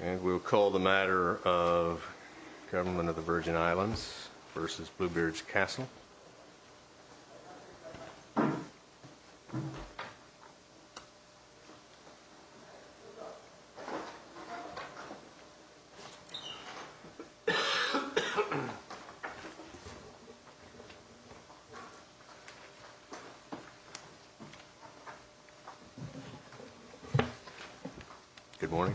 and we will call the matter of government of the Virgin Islands versus Bluebeards Castle Good morning.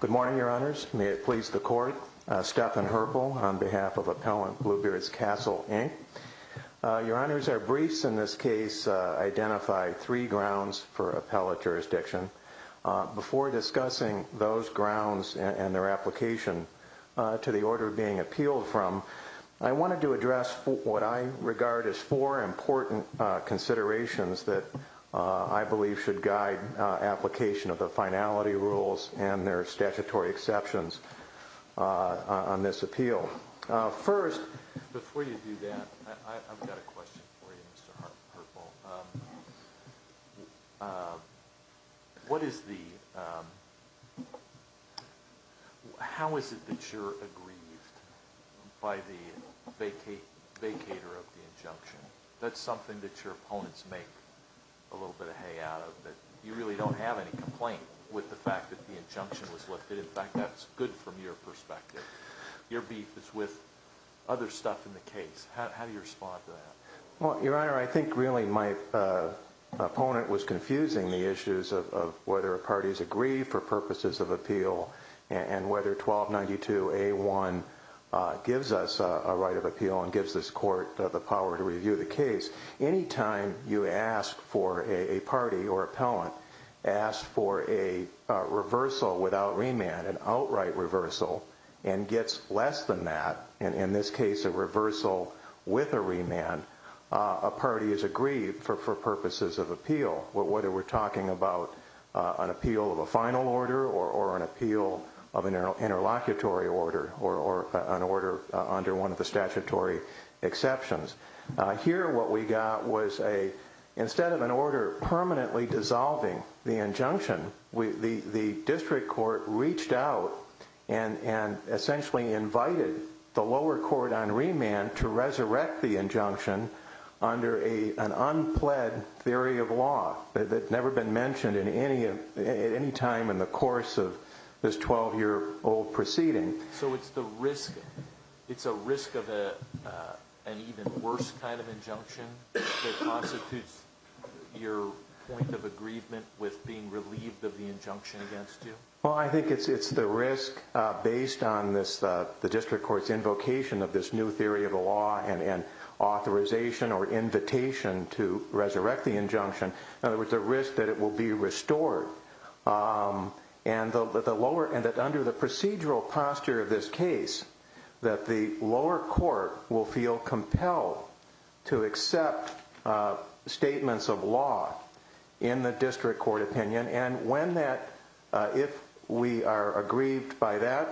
Good morning, your honors. May it please the court. Stephan Herbal on behalf of Appellant Bluebeards Castle, Inc. Your honors, our briefs in this case identify three grounds for appellate jurisdiction. Before discussing those grounds and their application to the order being appealed from, I wanted to address what I regard as four important considerations that I believe should guide application of the finality rules and their statutory exceptions on this appeal. First, before you do that, I've got a question for you, Mr. Herbal. What is the, how is it that you're aggrieved by the vacator of the injunction? That's something that your opponents make a little bit of hay out of, that you really don't have any complaint with the fact that the injunction was lifted. In fact, that's good from your perspective. Your beef is with other stuff in the case. How do you respond to that? Well, your honor, I think really my opponent was confusing the issues of whether parties agree for purposes of appeal and whether 1292A1 gives us a right of appeal and gives this court the power to review the case. Anytime you ask for a party or appellant, ask for a reversal without remand, an outright reversal, and gets less than that, in this case a reversal with a remand, a party is aggrieved for purposes of appeal. Whether we're talking about an appeal of a final order or an appeal of an interlocutory order or an order under one of the statutory exceptions. Here what we got was a, instead of an order permanently dissolving the injunction, the district court reached out and essentially invited the lower court on remand to resurrect the injunction under an unpled theory of law that's never been mentioned at any time in the course of this 12 year old proceeding. So it's the risk, it's a risk of an even worse kind of injunction that constitutes your point of aggrievement with being relieved of the injunction against you? Well I think it's the risk based on the district court's invocation of this new theory of the law and authorization or invitation to resurrect the injunction. In other words, the risk that it will be restored and that under the procedural posture of this case, that the lower court will feel compelled to accept statements of law in the district court opinion and when that, if we are aggrieved by that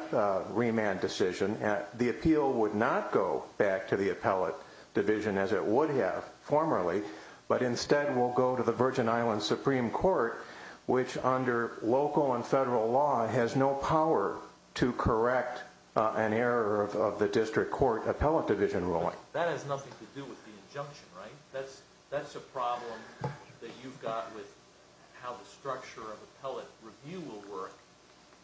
remand decision, the appeal would not go back to the appellate division as it would have formerly but instead will go to the Virgin Islands Supreme Court which under local and federal law has no power to correct an error of the district court appellate division ruling. That has nothing to do with the injunction, right? That's a problem that you've got with how the structure of appellate review will work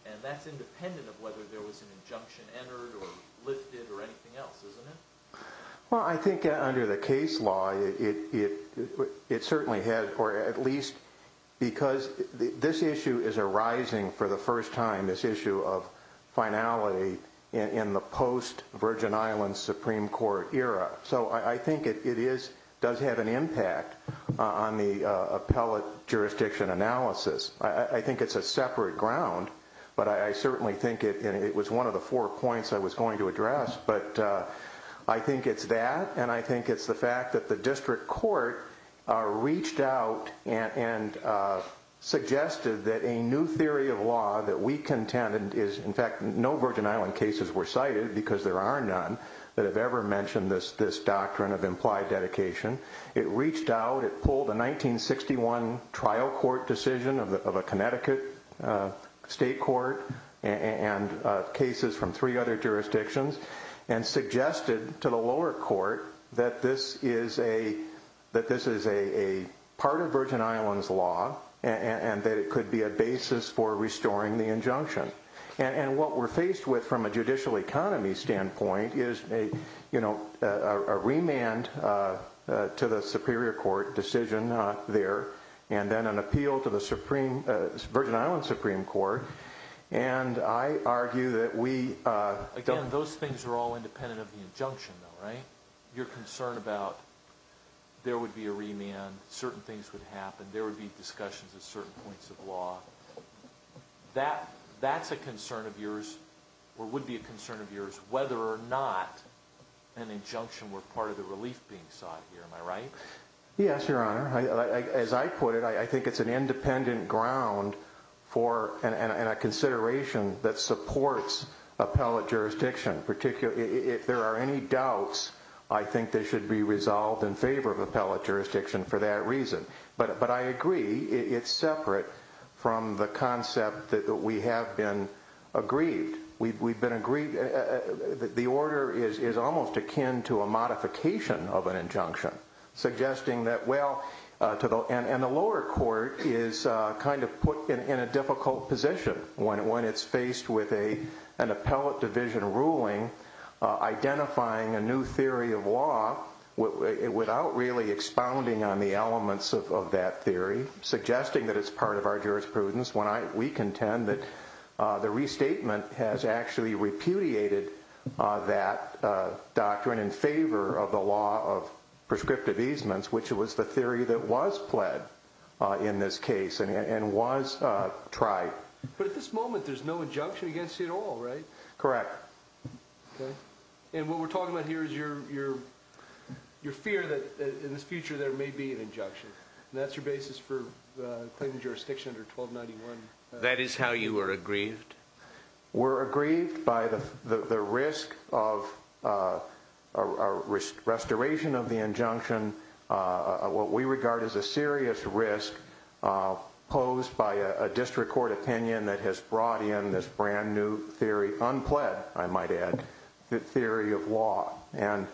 and that's independent of whether there was an injunction entered or lifted or anything else, isn't it? Well I think under the case law it certainly has, or at least because this issue is arising for the first time, this issue of finality in the post-Virgin Islands Supreme Court era. So I think it does have an impact on the appellate jurisdiction analysis. I think it's a separate ground but I certainly think it was one of the four points I was going to address but I think it's that and I think it's the fact that the district court reached out and suggested that a new theory of law that we contend, in fact no Virgin Island cases were cited because there are none that have ever mentioned this doctrine of implied dedication. It reached out, it pulled a 1961 trial court decision of a Connecticut state court and cases from three other jurisdictions and suggested to the lower court that this is a part of Virgin Islands law and that it could be a basis for restoring the injunction. And what we're faced with from a judicial economy standpoint is a remand to the superior court decision there and then an appeal to the Virgin Islands Supreme Court and I argue that we... Again, those things are all independent of the injunction though, right? Your concern about there would be a remand, certain things would happen, there would be discussions at certain points of law, that's a concern of yours or would be a concern of yours whether or not an injunction were part of the relief being sought here, am I right? Yes, your honor. As I put it, I think it's an independent ground and a consideration that supports appellate jurisdiction, particularly if there are any doubts, I think they should be resolved in favor of appellate jurisdiction for that reason. But I agree, it's separate from the concept that we have been aggrieved. We've been aggrieved, the order is almost akin to a modification of an injunction, suggesting that well, and the lower court is kind of put in a difficult position when it's faced with an appellate division ruling, identifying a new theory of law without really expounding on the elements of that theory, suggesting that it's part of our jurisprudence. When we contend that the restatement has actually repudiated that doctrine in favor of the law of prescriptive easements, which was the theory that was pled in this case and was tried. But at this moment there's no injunction against you at all, right? Correct. And what we're talking about here is your fear that in the future there may be an injunction. And that's your basis for claiming jurisdiction under 1291. That is how you are aggrieved? We're aggrieved by the risk of a restoration of the injunction, what we regard as a serious risk posed by a district court opinion that has brought in this brand new theory, unpled, I might add, theory of law. And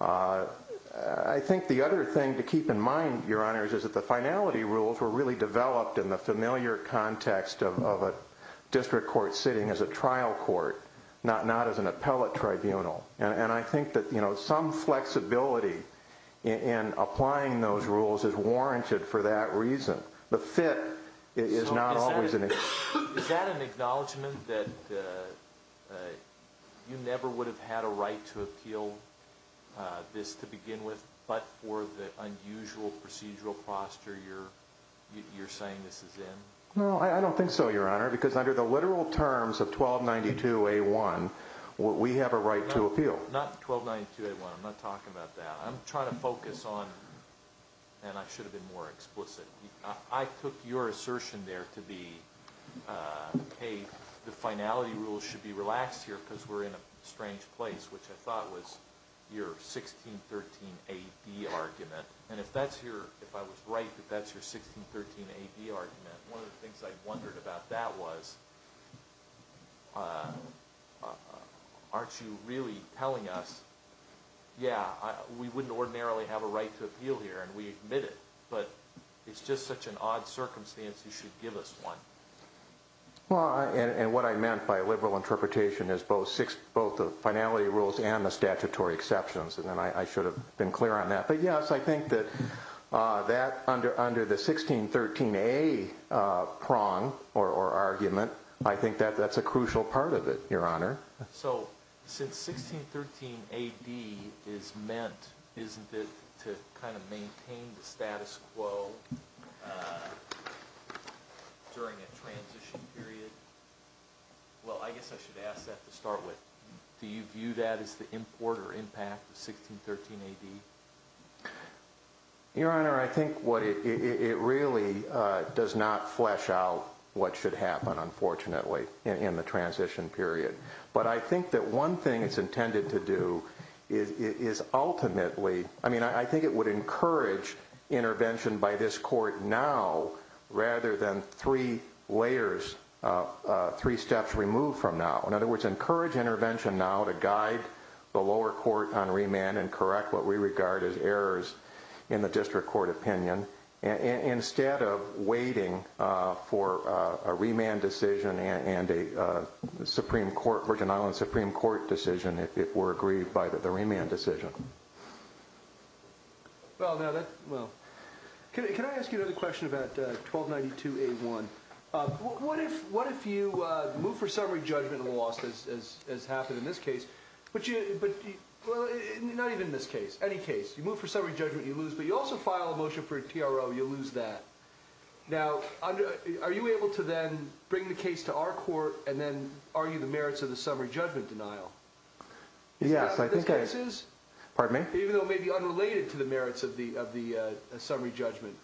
I think the other thing to keep in mind, Your Honors, is that the finality rules were really developed in the familiar context of a district court sitting as a trial court, not as an appellate tribunal. And I think that some flexibility in applying those rules is warranted for that reason. The fit is not always an excuse. Is that an acknowledgment that you never would have had a right to appeal this to begin with, but for the unusual procedural posture you're saying this is in? No, I don't think so, Your Honor, because under the literal terms of 1292A1, we have a right to appeal. Not 1292A1, I'm not talking about that. I'm trying to focus on, and I should have been more explicit, I took your assertion there to be, hey, the finality rules should be relaxed here because we're in a strange place, which I thought was your 1613AD argument. And if I was right that that's your 1613AD argument, one of the things I wondered about that was, aren't you really telling us, yeah, we wouldn't ordinarily have a right to appeal here, and we admit it, but it's just such an odd circumstance, you should give us one. And what I meant by liberal interpretation is both the finality rules and the statutory exceptions, and I should have been clear on that. But yes, I think that under the 1613A prong or argument, I think that's a crucial part of it, Your Honor. So, since 1613AD is meant, isn't it, to kind of maintain the status quo during a transition period? Well, I guess I should ask that to start with. Do you view that as the import or impact of 1613AD? Your Honor, I think it really does not flesh out what should happen, unfortunately, in the transition period. But I think that one thing it's intended to do is ultimately, I mean, I think it would encourage intervention by this court now, rather than three layers, three steps removed from now. In other words, encourage intervention now to guide the lower court on remand and correct what we regard as errors in the district court opinion, instead of waiting for a remand decision and a Supreme Court, Virgin Islands Supreme Court decision if it were agreed by the remand decision. Well, now that, well. Can I ask you another question about 1292A1? What if you move for summary judgment and loss, as happened in this case, but you, well, not even in this case, any case, you move for summary judgment, you lose, but you also file a motion for a TRO, you lose that. Now, are you able to then bring the case to our court and then argue the merits of the summary judgment denial? Yes, I think I... Is that what this case is? Pardon me? Even though it may be unrelated to the merits of the summary judgment.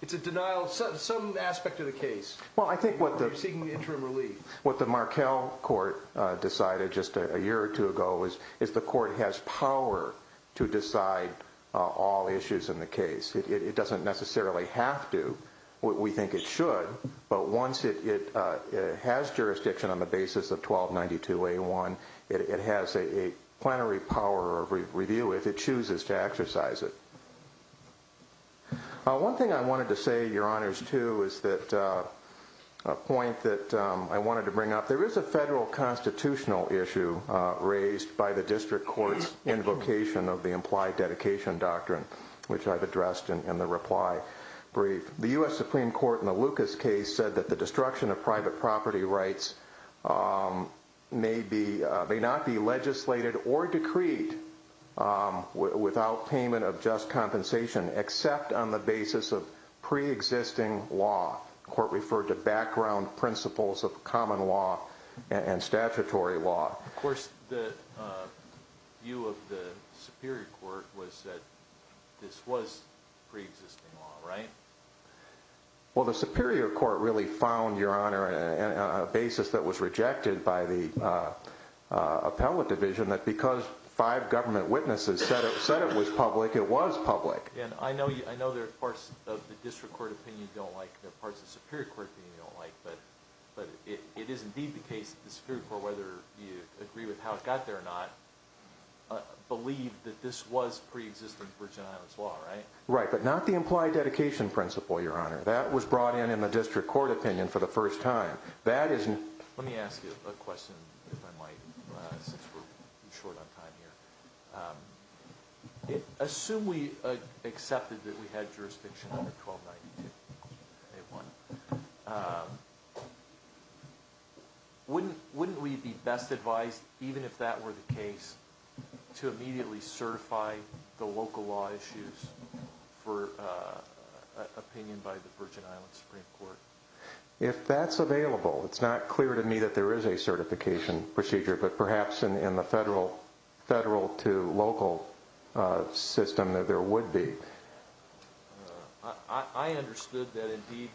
It's a denial of some aspect of the case. Well, I think what the... You're seeking interim relief. What the Markell Court decided just a year or two ago is the court has power to decide all issues in the case. It doesn't necessarily have to. We think it should. But once it has jurisdiction on the basis of 1292A1, it has a plenary power of review if it chooses to exercise it. One thing I wanted to say, Your Honors, too, is that a point that I wanted to bring up. There is a federal constitutional issue raised by the district court's invocation of the implied dedication doctrine, which I've addressed in the reply brief. The U.S. Supreme Court, in the Lucas case, said that the destruction of private property rights may not be legislated or decreed without payment of just compensation except on the basis of preexisting law. The court referred to background principles of common law and statutory law. Of course, the view of the Superior Court was that this was preexisting law, right? Well, the Superior Court really found, Your Honor, on a basis that was rejected by the appellate division, that because five government witnesses said it was public, it was public. I know there are parts of the district court opinion you don't like, there are parts of the Superior Court opinion you don't like, but it is indeed the case that the Superior Court, whether you agree with how it got there or not, believed that this was preexisting Virgin Islands law, right? Right, but not the implied dedication principle, Your Honor. That was brought in in the district court opinion for the first time. Let me ask you a question, if I might, since we're short on time here. Assume we accepted that we had jurisdiction under 1292, A1, wouldn't we be best advised, even if that were the case, to immediately certify the local law issues for opinion by the Virgin Islands Supreme Court? If that's available, it's not clear to me that there is a certification procedure, but perhaps in the federal to local system that there would be. I understood that indeed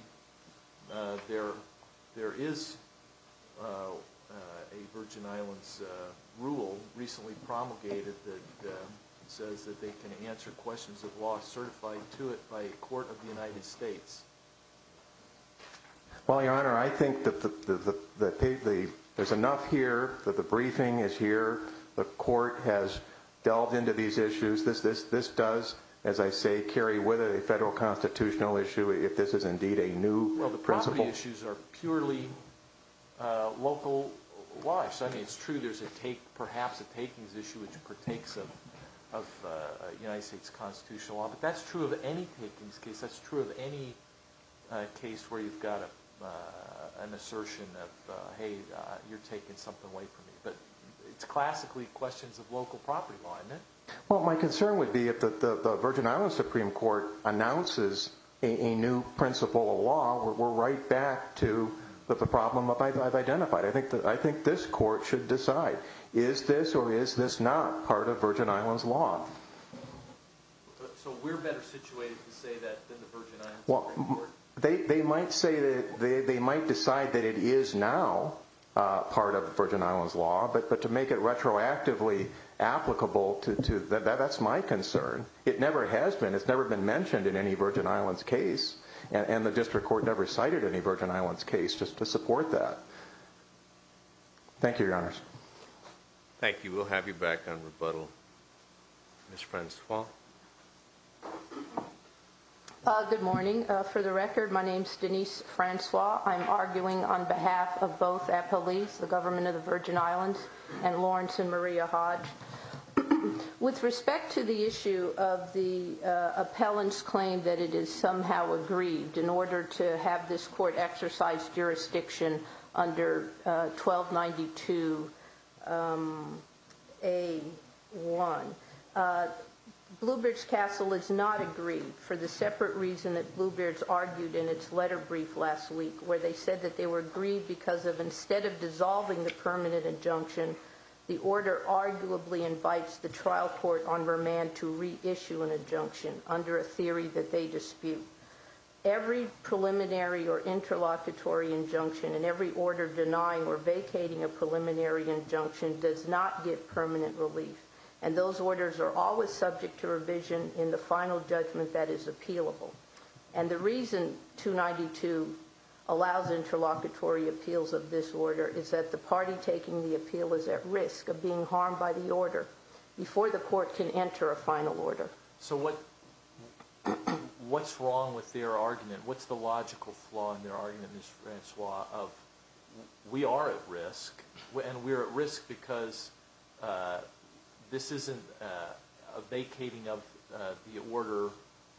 there is a Virgin Islands rule recently promulgated that says that they can answer questions of law certified to it by a court of the United States. Well, Your Honor, I think that there's enough here that the briefing is here, the court has delved into these issues, this does, as I say, carry with it a federal constitutional issue if this is indeed a new principle. Well, the property issues are purely local-wise. I mean, it's true there's perhaps a takings issue which partakes of United States Constitution law, but that's true of any takings case, that's true of any case where you've got an assertion of, hey, you're taking something away from me. It's classically questions of local property law, isn't it? Well, my concern would be if the Virgin Islands Supreme Court announces a new principle of law, we're right back to the problem I've identified. I think this court should decide, is this or is this not part of Virgin Islands law? So we're better situated to say that than the Virgin Islands Supreme Court? They might decide that it is now part of the Virgin Islands law, but to make it retroactively applicable, that's my concern. It never has been. It's never been mentioned in any Virgin Islands case and the District Court never cited any Virgin Islands case just to support that. Thank you, Your Honors. Thank you. We'll have you back on rebuttal. Ms. Francois. Good morning. For the record, my name's Denise Francois. I'm arguing on behalf of both the Supreme Court, the Supreme Court of the Virgin Islands, and the Supreme Court of the Virgin Islands. With respect to the issue of the appellant's claim that it is somehow agreed in order to have this court exercise jurisdiction under 1292 a 1, Bluebird's Castle is not agreed for the separate reason that instead of dissolving the permanent injunction, the order arguably invites the trial court on remand to reissue an injunction under a theory that they dispute. Every preliminary or interlocutory injunction and every order denying or vacating a preliminary injunction does not get permanent relief and those orders are always subject to revision in the final judgment that is appealable. And the reason 292 allows interlocutory appeals of this order is that the party taking the appeal is at risk of being harmed by the order before the court can enter a final order. So what's wrong with their argument? What's the logical flaw in their argument, Ms. Francois, of we are at risk and we're at risk because this isn't a vacating of the order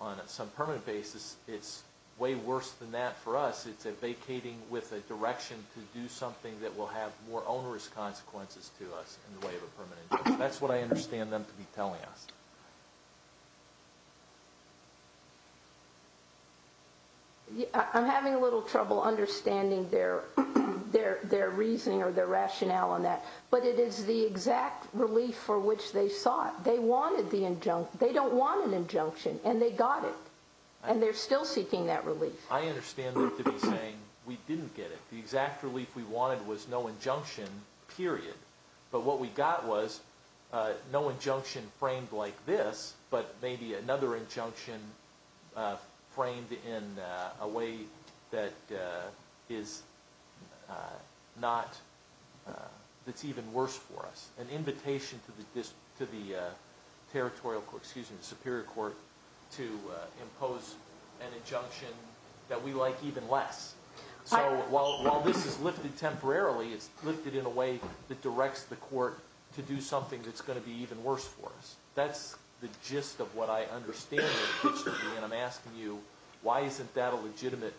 on some permanent basis. It's way worse than that for us. It's a vacating with a direction to do something that will have more onerous consequences to us in the way of a permanent injunction. That's what I understand them to be telling us. I'm having a little trouble understanding their reasoning or their rationale on that. But it is the exact relief for which they sought. They wanted the injunction. They don't want an injunction and they got it. And they're still seeking that relief. I understand them to be saying we didn't get it. The exact relief we wanted was no injunction period. But what we got was no injunction framed like this, but maybe another injunction framed in a way that is not even worse for us. An invitation to the court to impose an injunction that we like even less. So while this is lifted temporarily, it's lifted in a way that directs the court to do something that's going to be even worse for us. That's the gist of what I understand them to be. And I'm asking you why isn't that a legitimate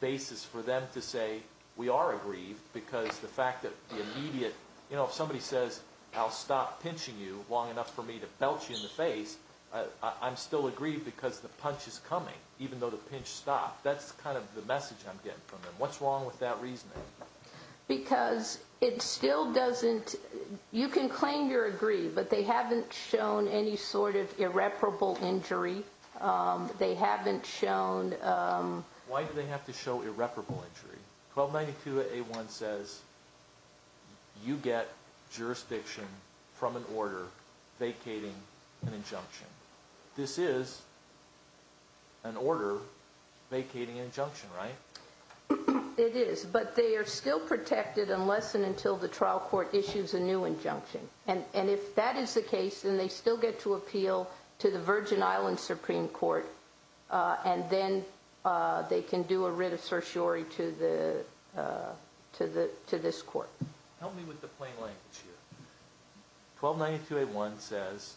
basis for them to say we are aggrieved because the fact that the immediate, you know, if somebody says I'll stop pinching you long enough for me to belch you in the face, I'm still aggrieved because the punch is coming even though the pinch stopped. That's kind of the message I'm getting from them. What's wrong with that reasoning? Because it still doesn't you can claim you're aggrieved but they haven't shown any sort of irreparable injury. They haven't shown Why do they have to show irreparable injury? 1292 A1 says you get jurisdiction from an order vacating an injunction. This is an order vacating an injunction, right? It is, but they are still protected unless and until the trial court issues a new injunction. And if that is the case, then they still get to appeal to the Virgin Islands Supreme Court and then they can do a writ of certiorari to the to this court. Help me with the plain language here. 1292 A1 says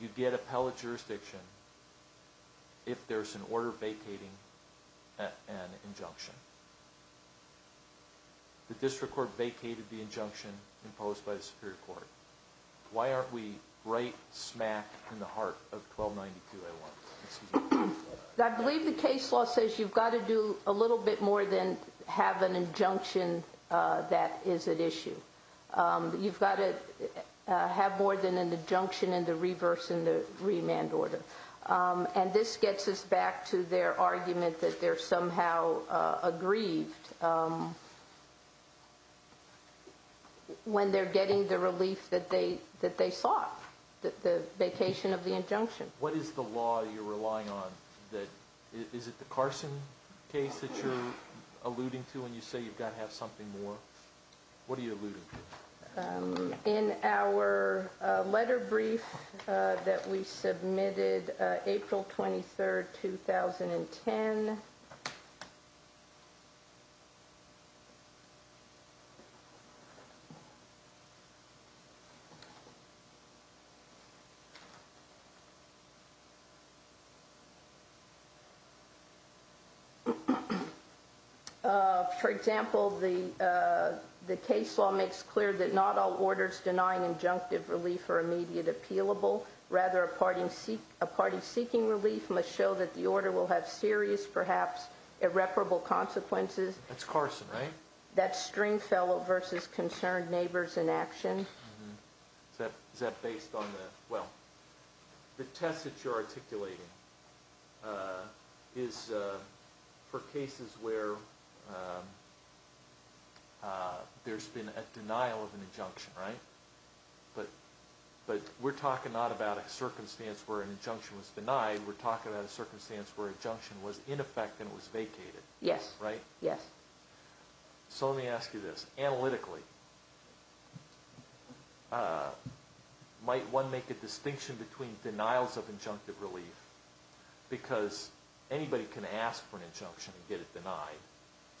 you get appellate jurisdiction if there's an order vacating an injunction. The district court vacated the injunction imposed by the superior court. Why aren't we right smack in the heart of 1292 A1? I believe the case law says you've got to do a little bit more than have an injunction as an issue. You've got to have more than an injunction in the reverse in the remand order. And this gets us back to their argument that they're somehow aggrieved when they're getting the relief that they sought. The vacation of the injunction. What is the law you're relying on? Is it the Carson case that you're alluding to when you say you've got to have something more? What are you alluding to? In our letter brief that we submitted April 23rd, 2010. For example, the case law makes clear that not all orders denying injunctive relief are immediate appealable. Rather, a party seeking relief must show that the order will have serious, perhaps irreparable consequences. That's Carson, right? That's Stringfellow v. Concerned Neighbors in Action. The test that you're articulating is for cases where there's been a denial of an injunction, right? But we're talking not about a circumstance where an injunction was denied. We're talking about a circumstance where an injunction was in effect and it was vacated. So let me ask you this. Analytically, might one make a distinction between denials of injunctive relief because anybody can ask for an injunction and get it denied.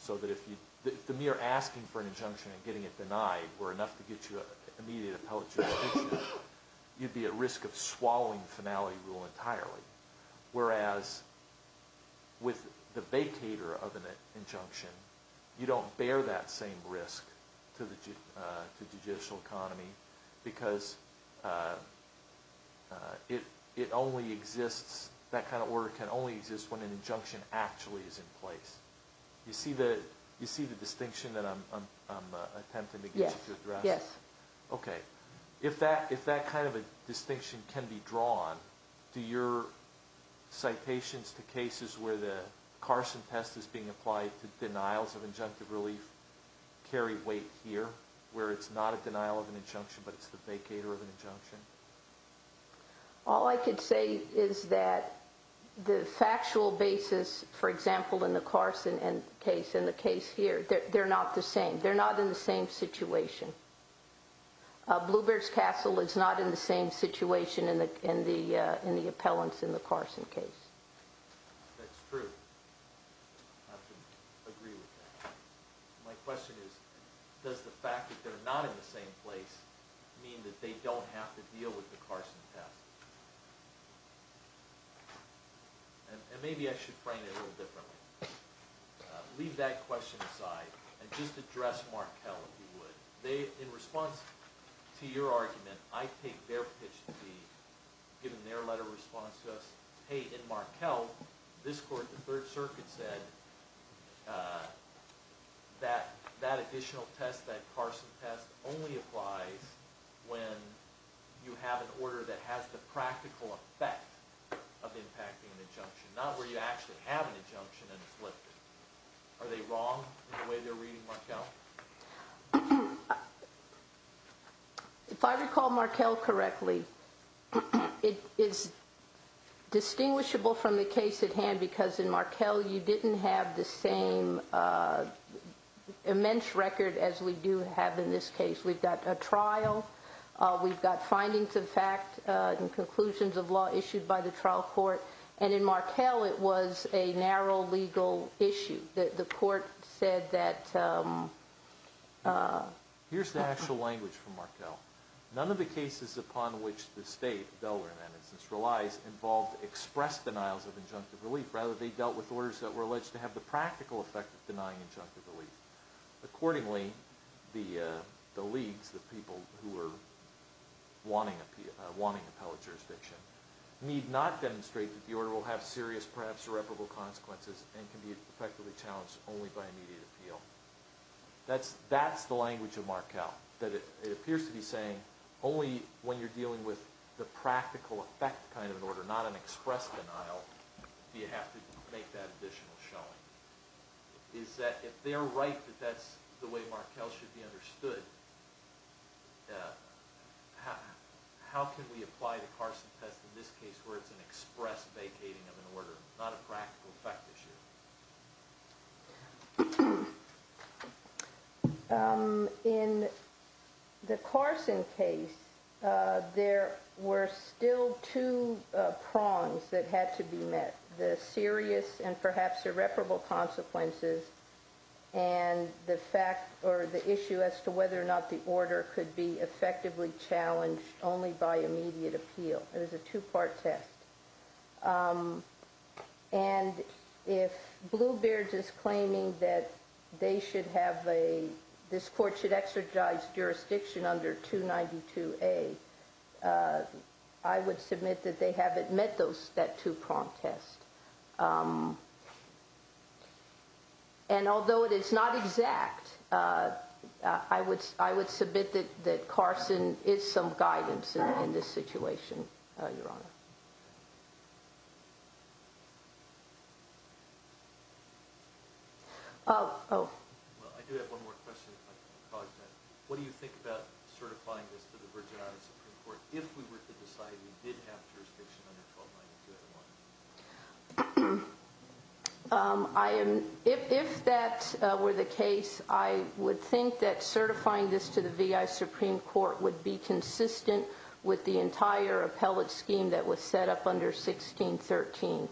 So that if the mere asking for an injunction and getting it denied were enough to get you an immediate appellate jurisdiction, you'd be at risk of swallowing the finality rule entirely. Whereas, with the vacater of an injunction, you don't bear that same risk economy because it only exists, that kind of order can only exist when an injunction actually is in place. You see the distinction that I'm attempting to get you to address? Yes. If that kind of a distinction can be drawn, do your citations to cases where the Carson test is being applied to denials of injunctive relief carry weight here, where it's not a denial of an injunction but it's the vacater of an injunction? All I could say is that the factual basis, for example, in the Carson case and the case here, they're not the same. They're not in the same situation. Blue Bears Castle is not in the same situation in the appellants in the Carson case. That's true. I agree with that. My question is, does the fact that they're not in the same place mean that they don't have to deal with the Carson test? Maybe I should frame it a little differently. Leave that question aside and just address Markell, if you would. In response to your argument, I take their pitch to be, given their letter of response to us, hey, in Markell, this court, the Third Circuit said that that additional test, that Carson test, only applies when you have an order that has the practical effect of impacting an injunction, not where you actually have an injunction and it's lifted. Are they wrong in the way they're reading Markell? If I recall Markell correctly, it is distinguishable from the case at hand because in Markell you didn't have the same immense record as we do have in this case. We've got a trial, we've got findings of fact and conclusions of law issued by the trial court, and in Markell it was a narrow legal issue. The court said that... Here's the actual language from Markell. None of the cases upon which the state of Delaware, for instance, relies involved expressed denials of injunctive relief. Rather, they dealt with orders that were alleged to have the practical effect of denying injunctive relief. Accordingly, the leagues, the people who were wanting appellate jurisdiction need not demonstrate that the order will have serious, perhaps irreparable consequences and can be effectively challenged only by immediate appeal. That's the language of Markell that it appears to be saying only when you're dealing with the practical effect kind of an order, not an expressed denial, do you have to make that additional showing. Is that if they're right that that's the way Markell should be How can we apply the Carson test in this case where it's an express vacating of an order not a practical effect issue? In the Carson case there were still two prongs that had to be met. The serious and perhaps irreparable consequences and the issue as to whether or not the order could be effectively challenged only by immediate appeal. It was a two part test. And if Bluebeards is claiming that they should have a this court should exercise jurisdiction under 292A I would submit that they haven't met that two prong test. And although it is not exact I would submit that Carson is some guidance in this situation. I do have one more question. What do you think about certifying this to the Virginia Supreme Court if we were to decide we did have jurisdiction under 292A? If that were the case I would think that certifying this to the V.I. Supreme Court would be consistent with the entire appellate scheme that was set up under 1613.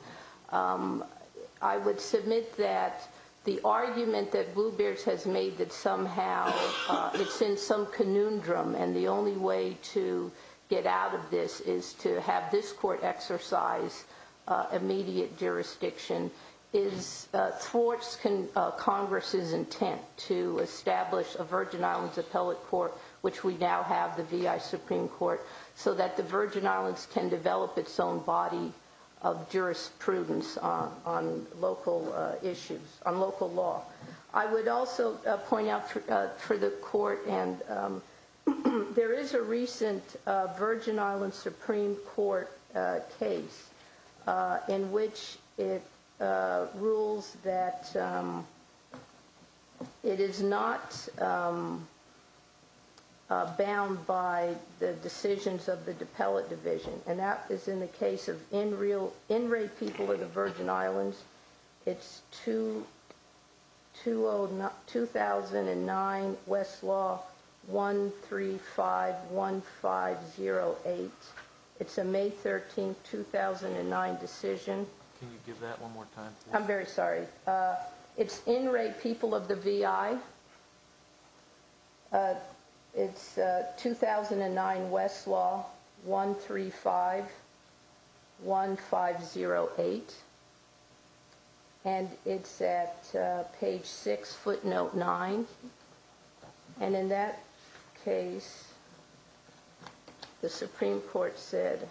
I would submit that the argument that Bluebeards has made that somehow it's in some conundrum and the only way to get out of this is to have this court exercise immediate jurisdiction thwarts Congress's intent to establish a Virgin Islands appellate court which we now have the V.I. Supreme Court so that the Virgin Islands can develop its own body of jurisprudence on local law. I would also point out for the court there is a recent Virgin Islands Supreme Court case in which it rules that it is not bound by the decisions of the appellate division and that is in the case of in-rate people of the Virgin Islands. It's 2009 Westlaw 135 1508 It's a May 13, 2009 decision. I'm very sorry. It's in-rate people of the V.I. It's 2009 Westlaw 135 1508 and it's at page 6 footnote 9 and in that case the Supreme Court said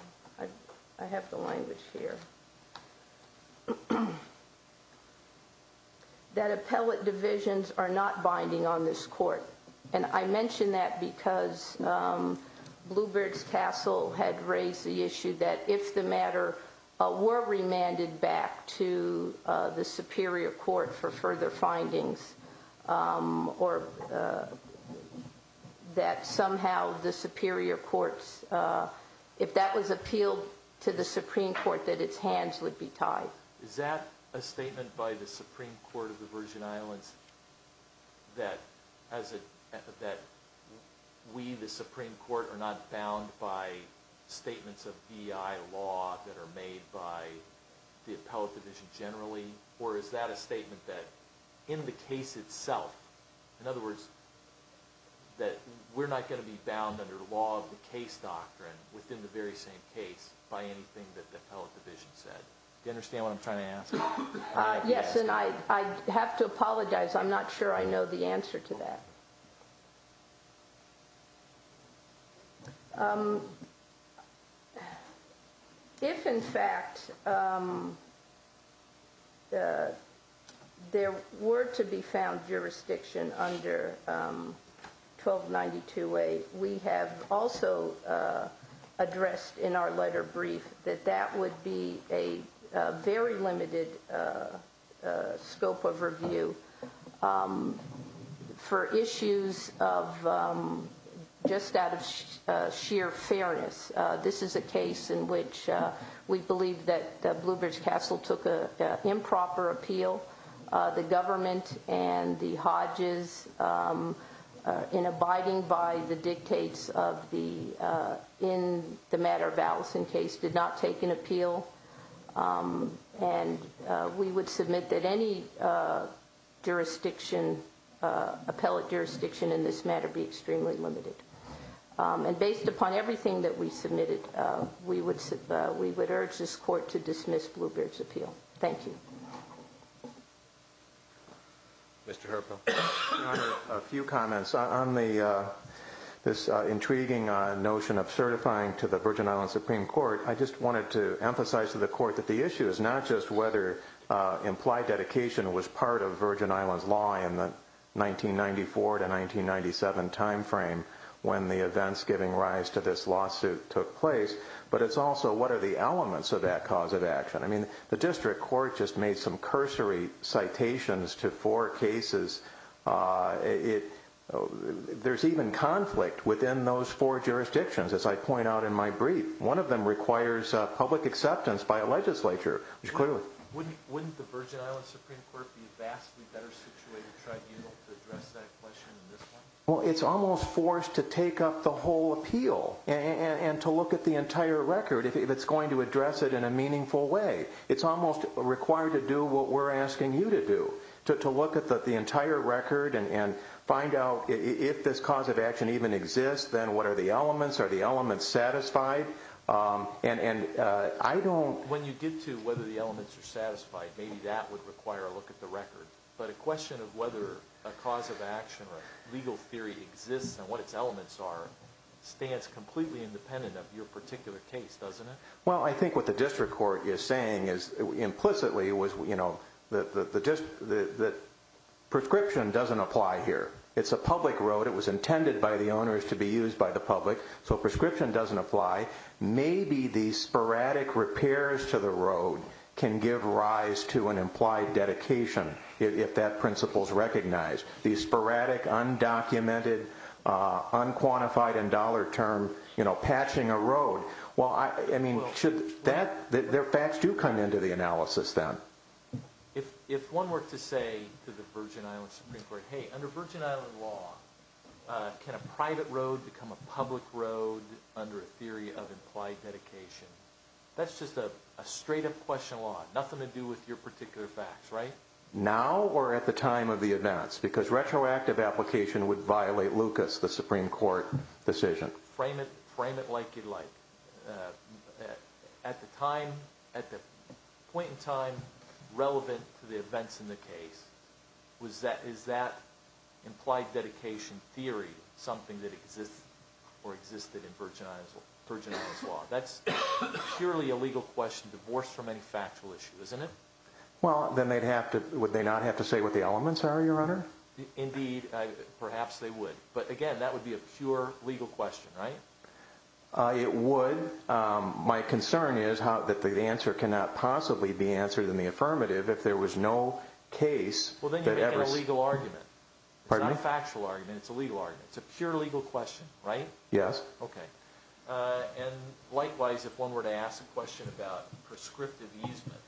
I have the language here that appellate divisions are not binding on this court and I mention that because Bluebirds Castle had raised the issue that if the matter were remanded back to the Superior Court for further findings or that somehow the Superior Court if that was appealed to the Supreme Court that it's hands would be tied. Is that a statement by the Supreme Court of the Virgin Islands that we the Supreme Court are not bound by statements of V.I. law that are made by the appellate division generally or is that a statement that in the case itself in other words that we're not going to be bound under law of the case doctrine within the very same case by anything that the appellate division said. Do you understand what I'm trying to ask? Yes and I have to apologize. I'm not sure I know the answer to that. If in fact there were to be found jurisdiction under 1292A we have also addressed in our letter brief that that would be a very limited scope of review for issues of just out of sheer fairness. This is a case in which we believe that improper appeal the government and the Hodges in abiding by the dictates of the in the matter of Allison case did not take an appeal and we would submit that any jurisdiction appellate jurisdiction in this matter be extremely limited. And based upon everything that we submitted we would urge this court to dismiss Bluebeard's appeal. Thank you. Mr. Herpel. A few comments on this intriguing notion of certifying to the Virgin Islands Supreme Court I just wanted to emphasize to the court that the issue is not just whether implied dedication was part of Virgin Islands law in the 1994 to 1997 time frame when the events giving rise to this lawsuit took place but it's also what are the elements of that cause of action. I mean the district court just made some cursory citations to four cases there's even conflict within those four jurisdictions as I point out in my brief. One of them requires public acceptance by a legislature which clearly Wouldn't the Virgin Islands Supreme Court be vastly better situated tribunal to address that question in this one? Well it's almost forced to take up the whole entire record if it's going to address it in a meaningful way. It's almost required to do what we're asking you to do. To look at the entire record and find out if this cause of action even exists then what are the elements? Are the elements satisfied? And I don't... When you get to whether the elements are satisfied maybe that would require a look at the record but a question of whether a cause of action or legal theory exists and what its elements are stands completely independent of your particular case doesn't it? Well I think what the district court is saying is implicitly that prescription doesn't apply here it's a public road it was intended by the owners to be used by the public so prescription doesn't apply maybe the sporadic repairs to the road can give rise to an implied dedication if that principle is recognized the sporadic undocumented unquantified and dollar term, you know, patching a road well I mean should that their facts do come into the analysis then. If one were to say to the Virgin Island Supreme Court, hey under Virgin Island law can a private road become a public road under a theory of implied dedication that's just a straight up question of law, nothing to do with your particular facts right? Now or at the time of the events because a retroactive application would violate Lucas, the Supreme Court decision. Frame it like you'd like at the time, at the point in time relevant to the events in the case is that implied dedication theory something that exists or existed in Virgin Island's law? That's purely a legal question divorced from any factual issue isn't it? Well then they'd have to, would they not have to say what the elements are your honor? Indeed, perhaps they would but again that would be a pure legal question right? It would, my concern is that the answer cannot possibly be answered in the affirmative if there was no case. Well then you're making a legal argument. Pardon me? It's not a factual argument, it's a legal argument. It's a pure legal question right? Yes. Okay. And likewise if one were to ask a question about prescriptive easement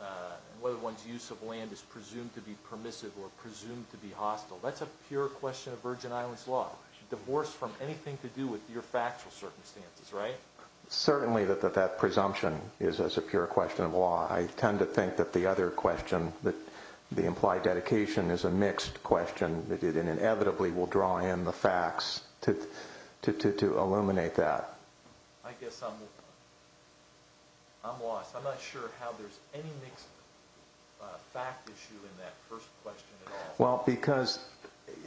and whether one's use of land is presumed to be permissive or presumed to be hostile, that's a pure question of Virgin Island's law. Divorced from anything to do with your factual circumstances right? Certainly that presumption is a pure question of law. I tend to think that the other question, the implied dedication is a mixed question that inevitably will draw in the facts to illuminate that. I guess I'm lost. I'm not sure how there's any mixed fact issue in that first question. Well because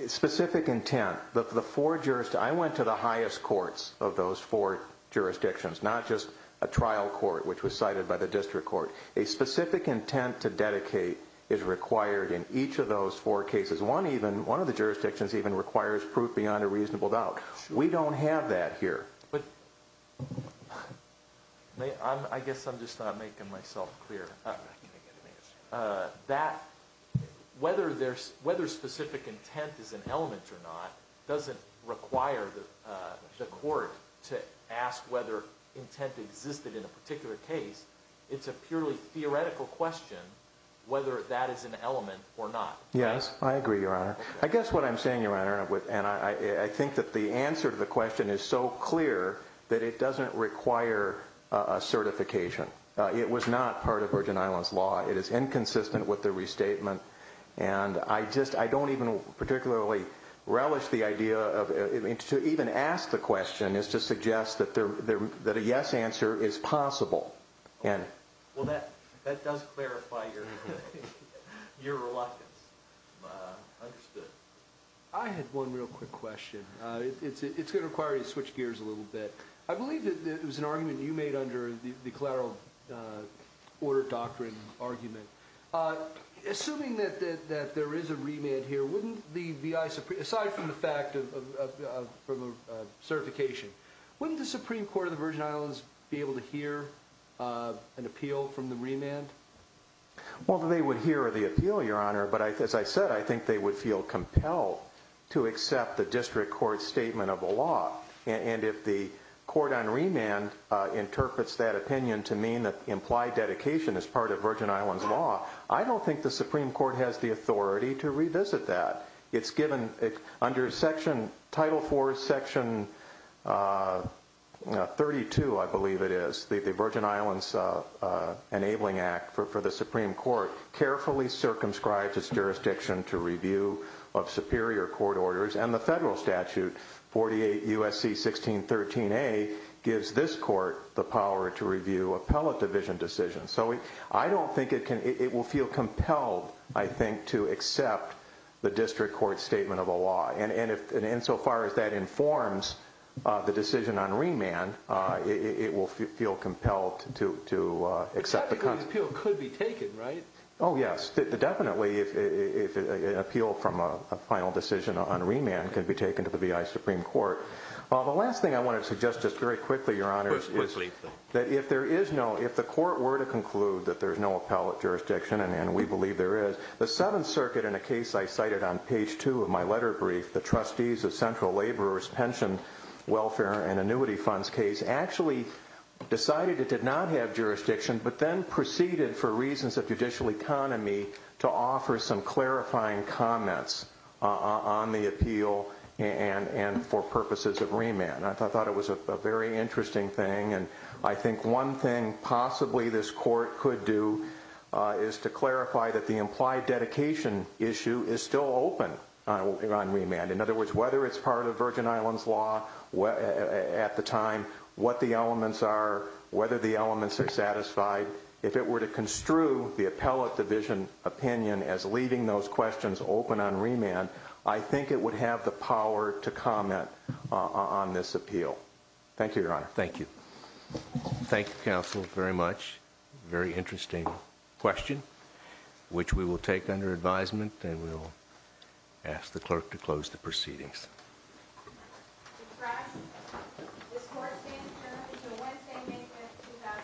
specific intent the four jurisdictions, I went to the highest courts of those four jurisdictions, not just a trial court which was cited by the district court. A specific intent to dedicate is required in each of those four cases. One even, one of the jurisdictions even requires proof beyond a reasonable doubt. We don't have that here. But I guess I'm just not making myself clear. That whether specific intent is an element or not doesn't require the court to ask whether intent existed in a particular case. It's a purely theoretical question whether that is an element or not. Yes, I agree your honor. I guess what I'm saying your honor, and I think that the answer to the question is so clear that it doesn't require a certification. It was not part of Virgin Islands law. It is inconsistent with the restatement and I just, I don't even particularly relish the idea of, to even ask the question is to suggest that a yes answer is possible. Well that does clarify your reluctance. Understood. I had one real quick question. It's going to require you to switch gears a little bit. I believe that it was an argument you made under the collateral order doctrine argument. Assuming that there is a remand here, wouldn't the VI Supreme, aside from the fact of certification, wouldn't the Supreme Court of the Virgin Islands be able to hear an appeal from the remand? Well they would hear the appeal your honor, but as I said, I think they would feel compelled to accept the district court statement of the law. And if the court on remand interprets that opinion to mean that implied dedication is part of Virgin Islands law, I don't think the Supreme Court has the authority to revisit that. It's given under section, title four, section 32 I believe it is, the Virgin Islands enabling act for the Supreme Court carefully circumscribes its barrier court orders and the federal statute 48 U.S.C. 1613 A gives this court the power to review appellate division decisions. So I don't think it will feel compelled I think to accept the district court statement of the law. And insofar as that informs the decision on remand, it will feel compelled to accept the appeal. The appeal could be taken, right? Oh yes, definitely if an appeal from a final decision on remand can be taken to the V.I. Supreme Court. The last thing I want to suggest just very quickly, Your Honor, that if there is no, if the court were to conclude that there's no appellate jurisdiction, and we believe there is, the Seventh Circuit in a case I cited on page two of my letter brief, the trustees of central laborers pension welfare and annuity funds case actually decided it did not have jurisdiction, but then proceeded for reasons of judicial economy to offer some clarifying comments on the appeal and for purposes of remand. I thought it was a very interesting thing, and I think one thing possibly this court could do is to clarify that the implied dedication issue is still open on remand. In other words, whether it's part of Virgin Islands law at the time, what the elements are, whether the elements are satisfied, if it were to have the same opinion as leaving those questions open on remand, I think it would have the power to comment on this appeal. Thank you, Your Honor. Thank you. Thank you, counsel, very much. Very interesting question, which we will take under advisement, and we will ask the clerk to close the proceedings. This court stands adjourned until Wednesday, May 5th, 2010. adjourned until Wednesday, May 5th, 2010. adjourned until Wednesday, May 5th, 2010. adjourned until Wednesday, May 5th,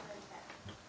2010.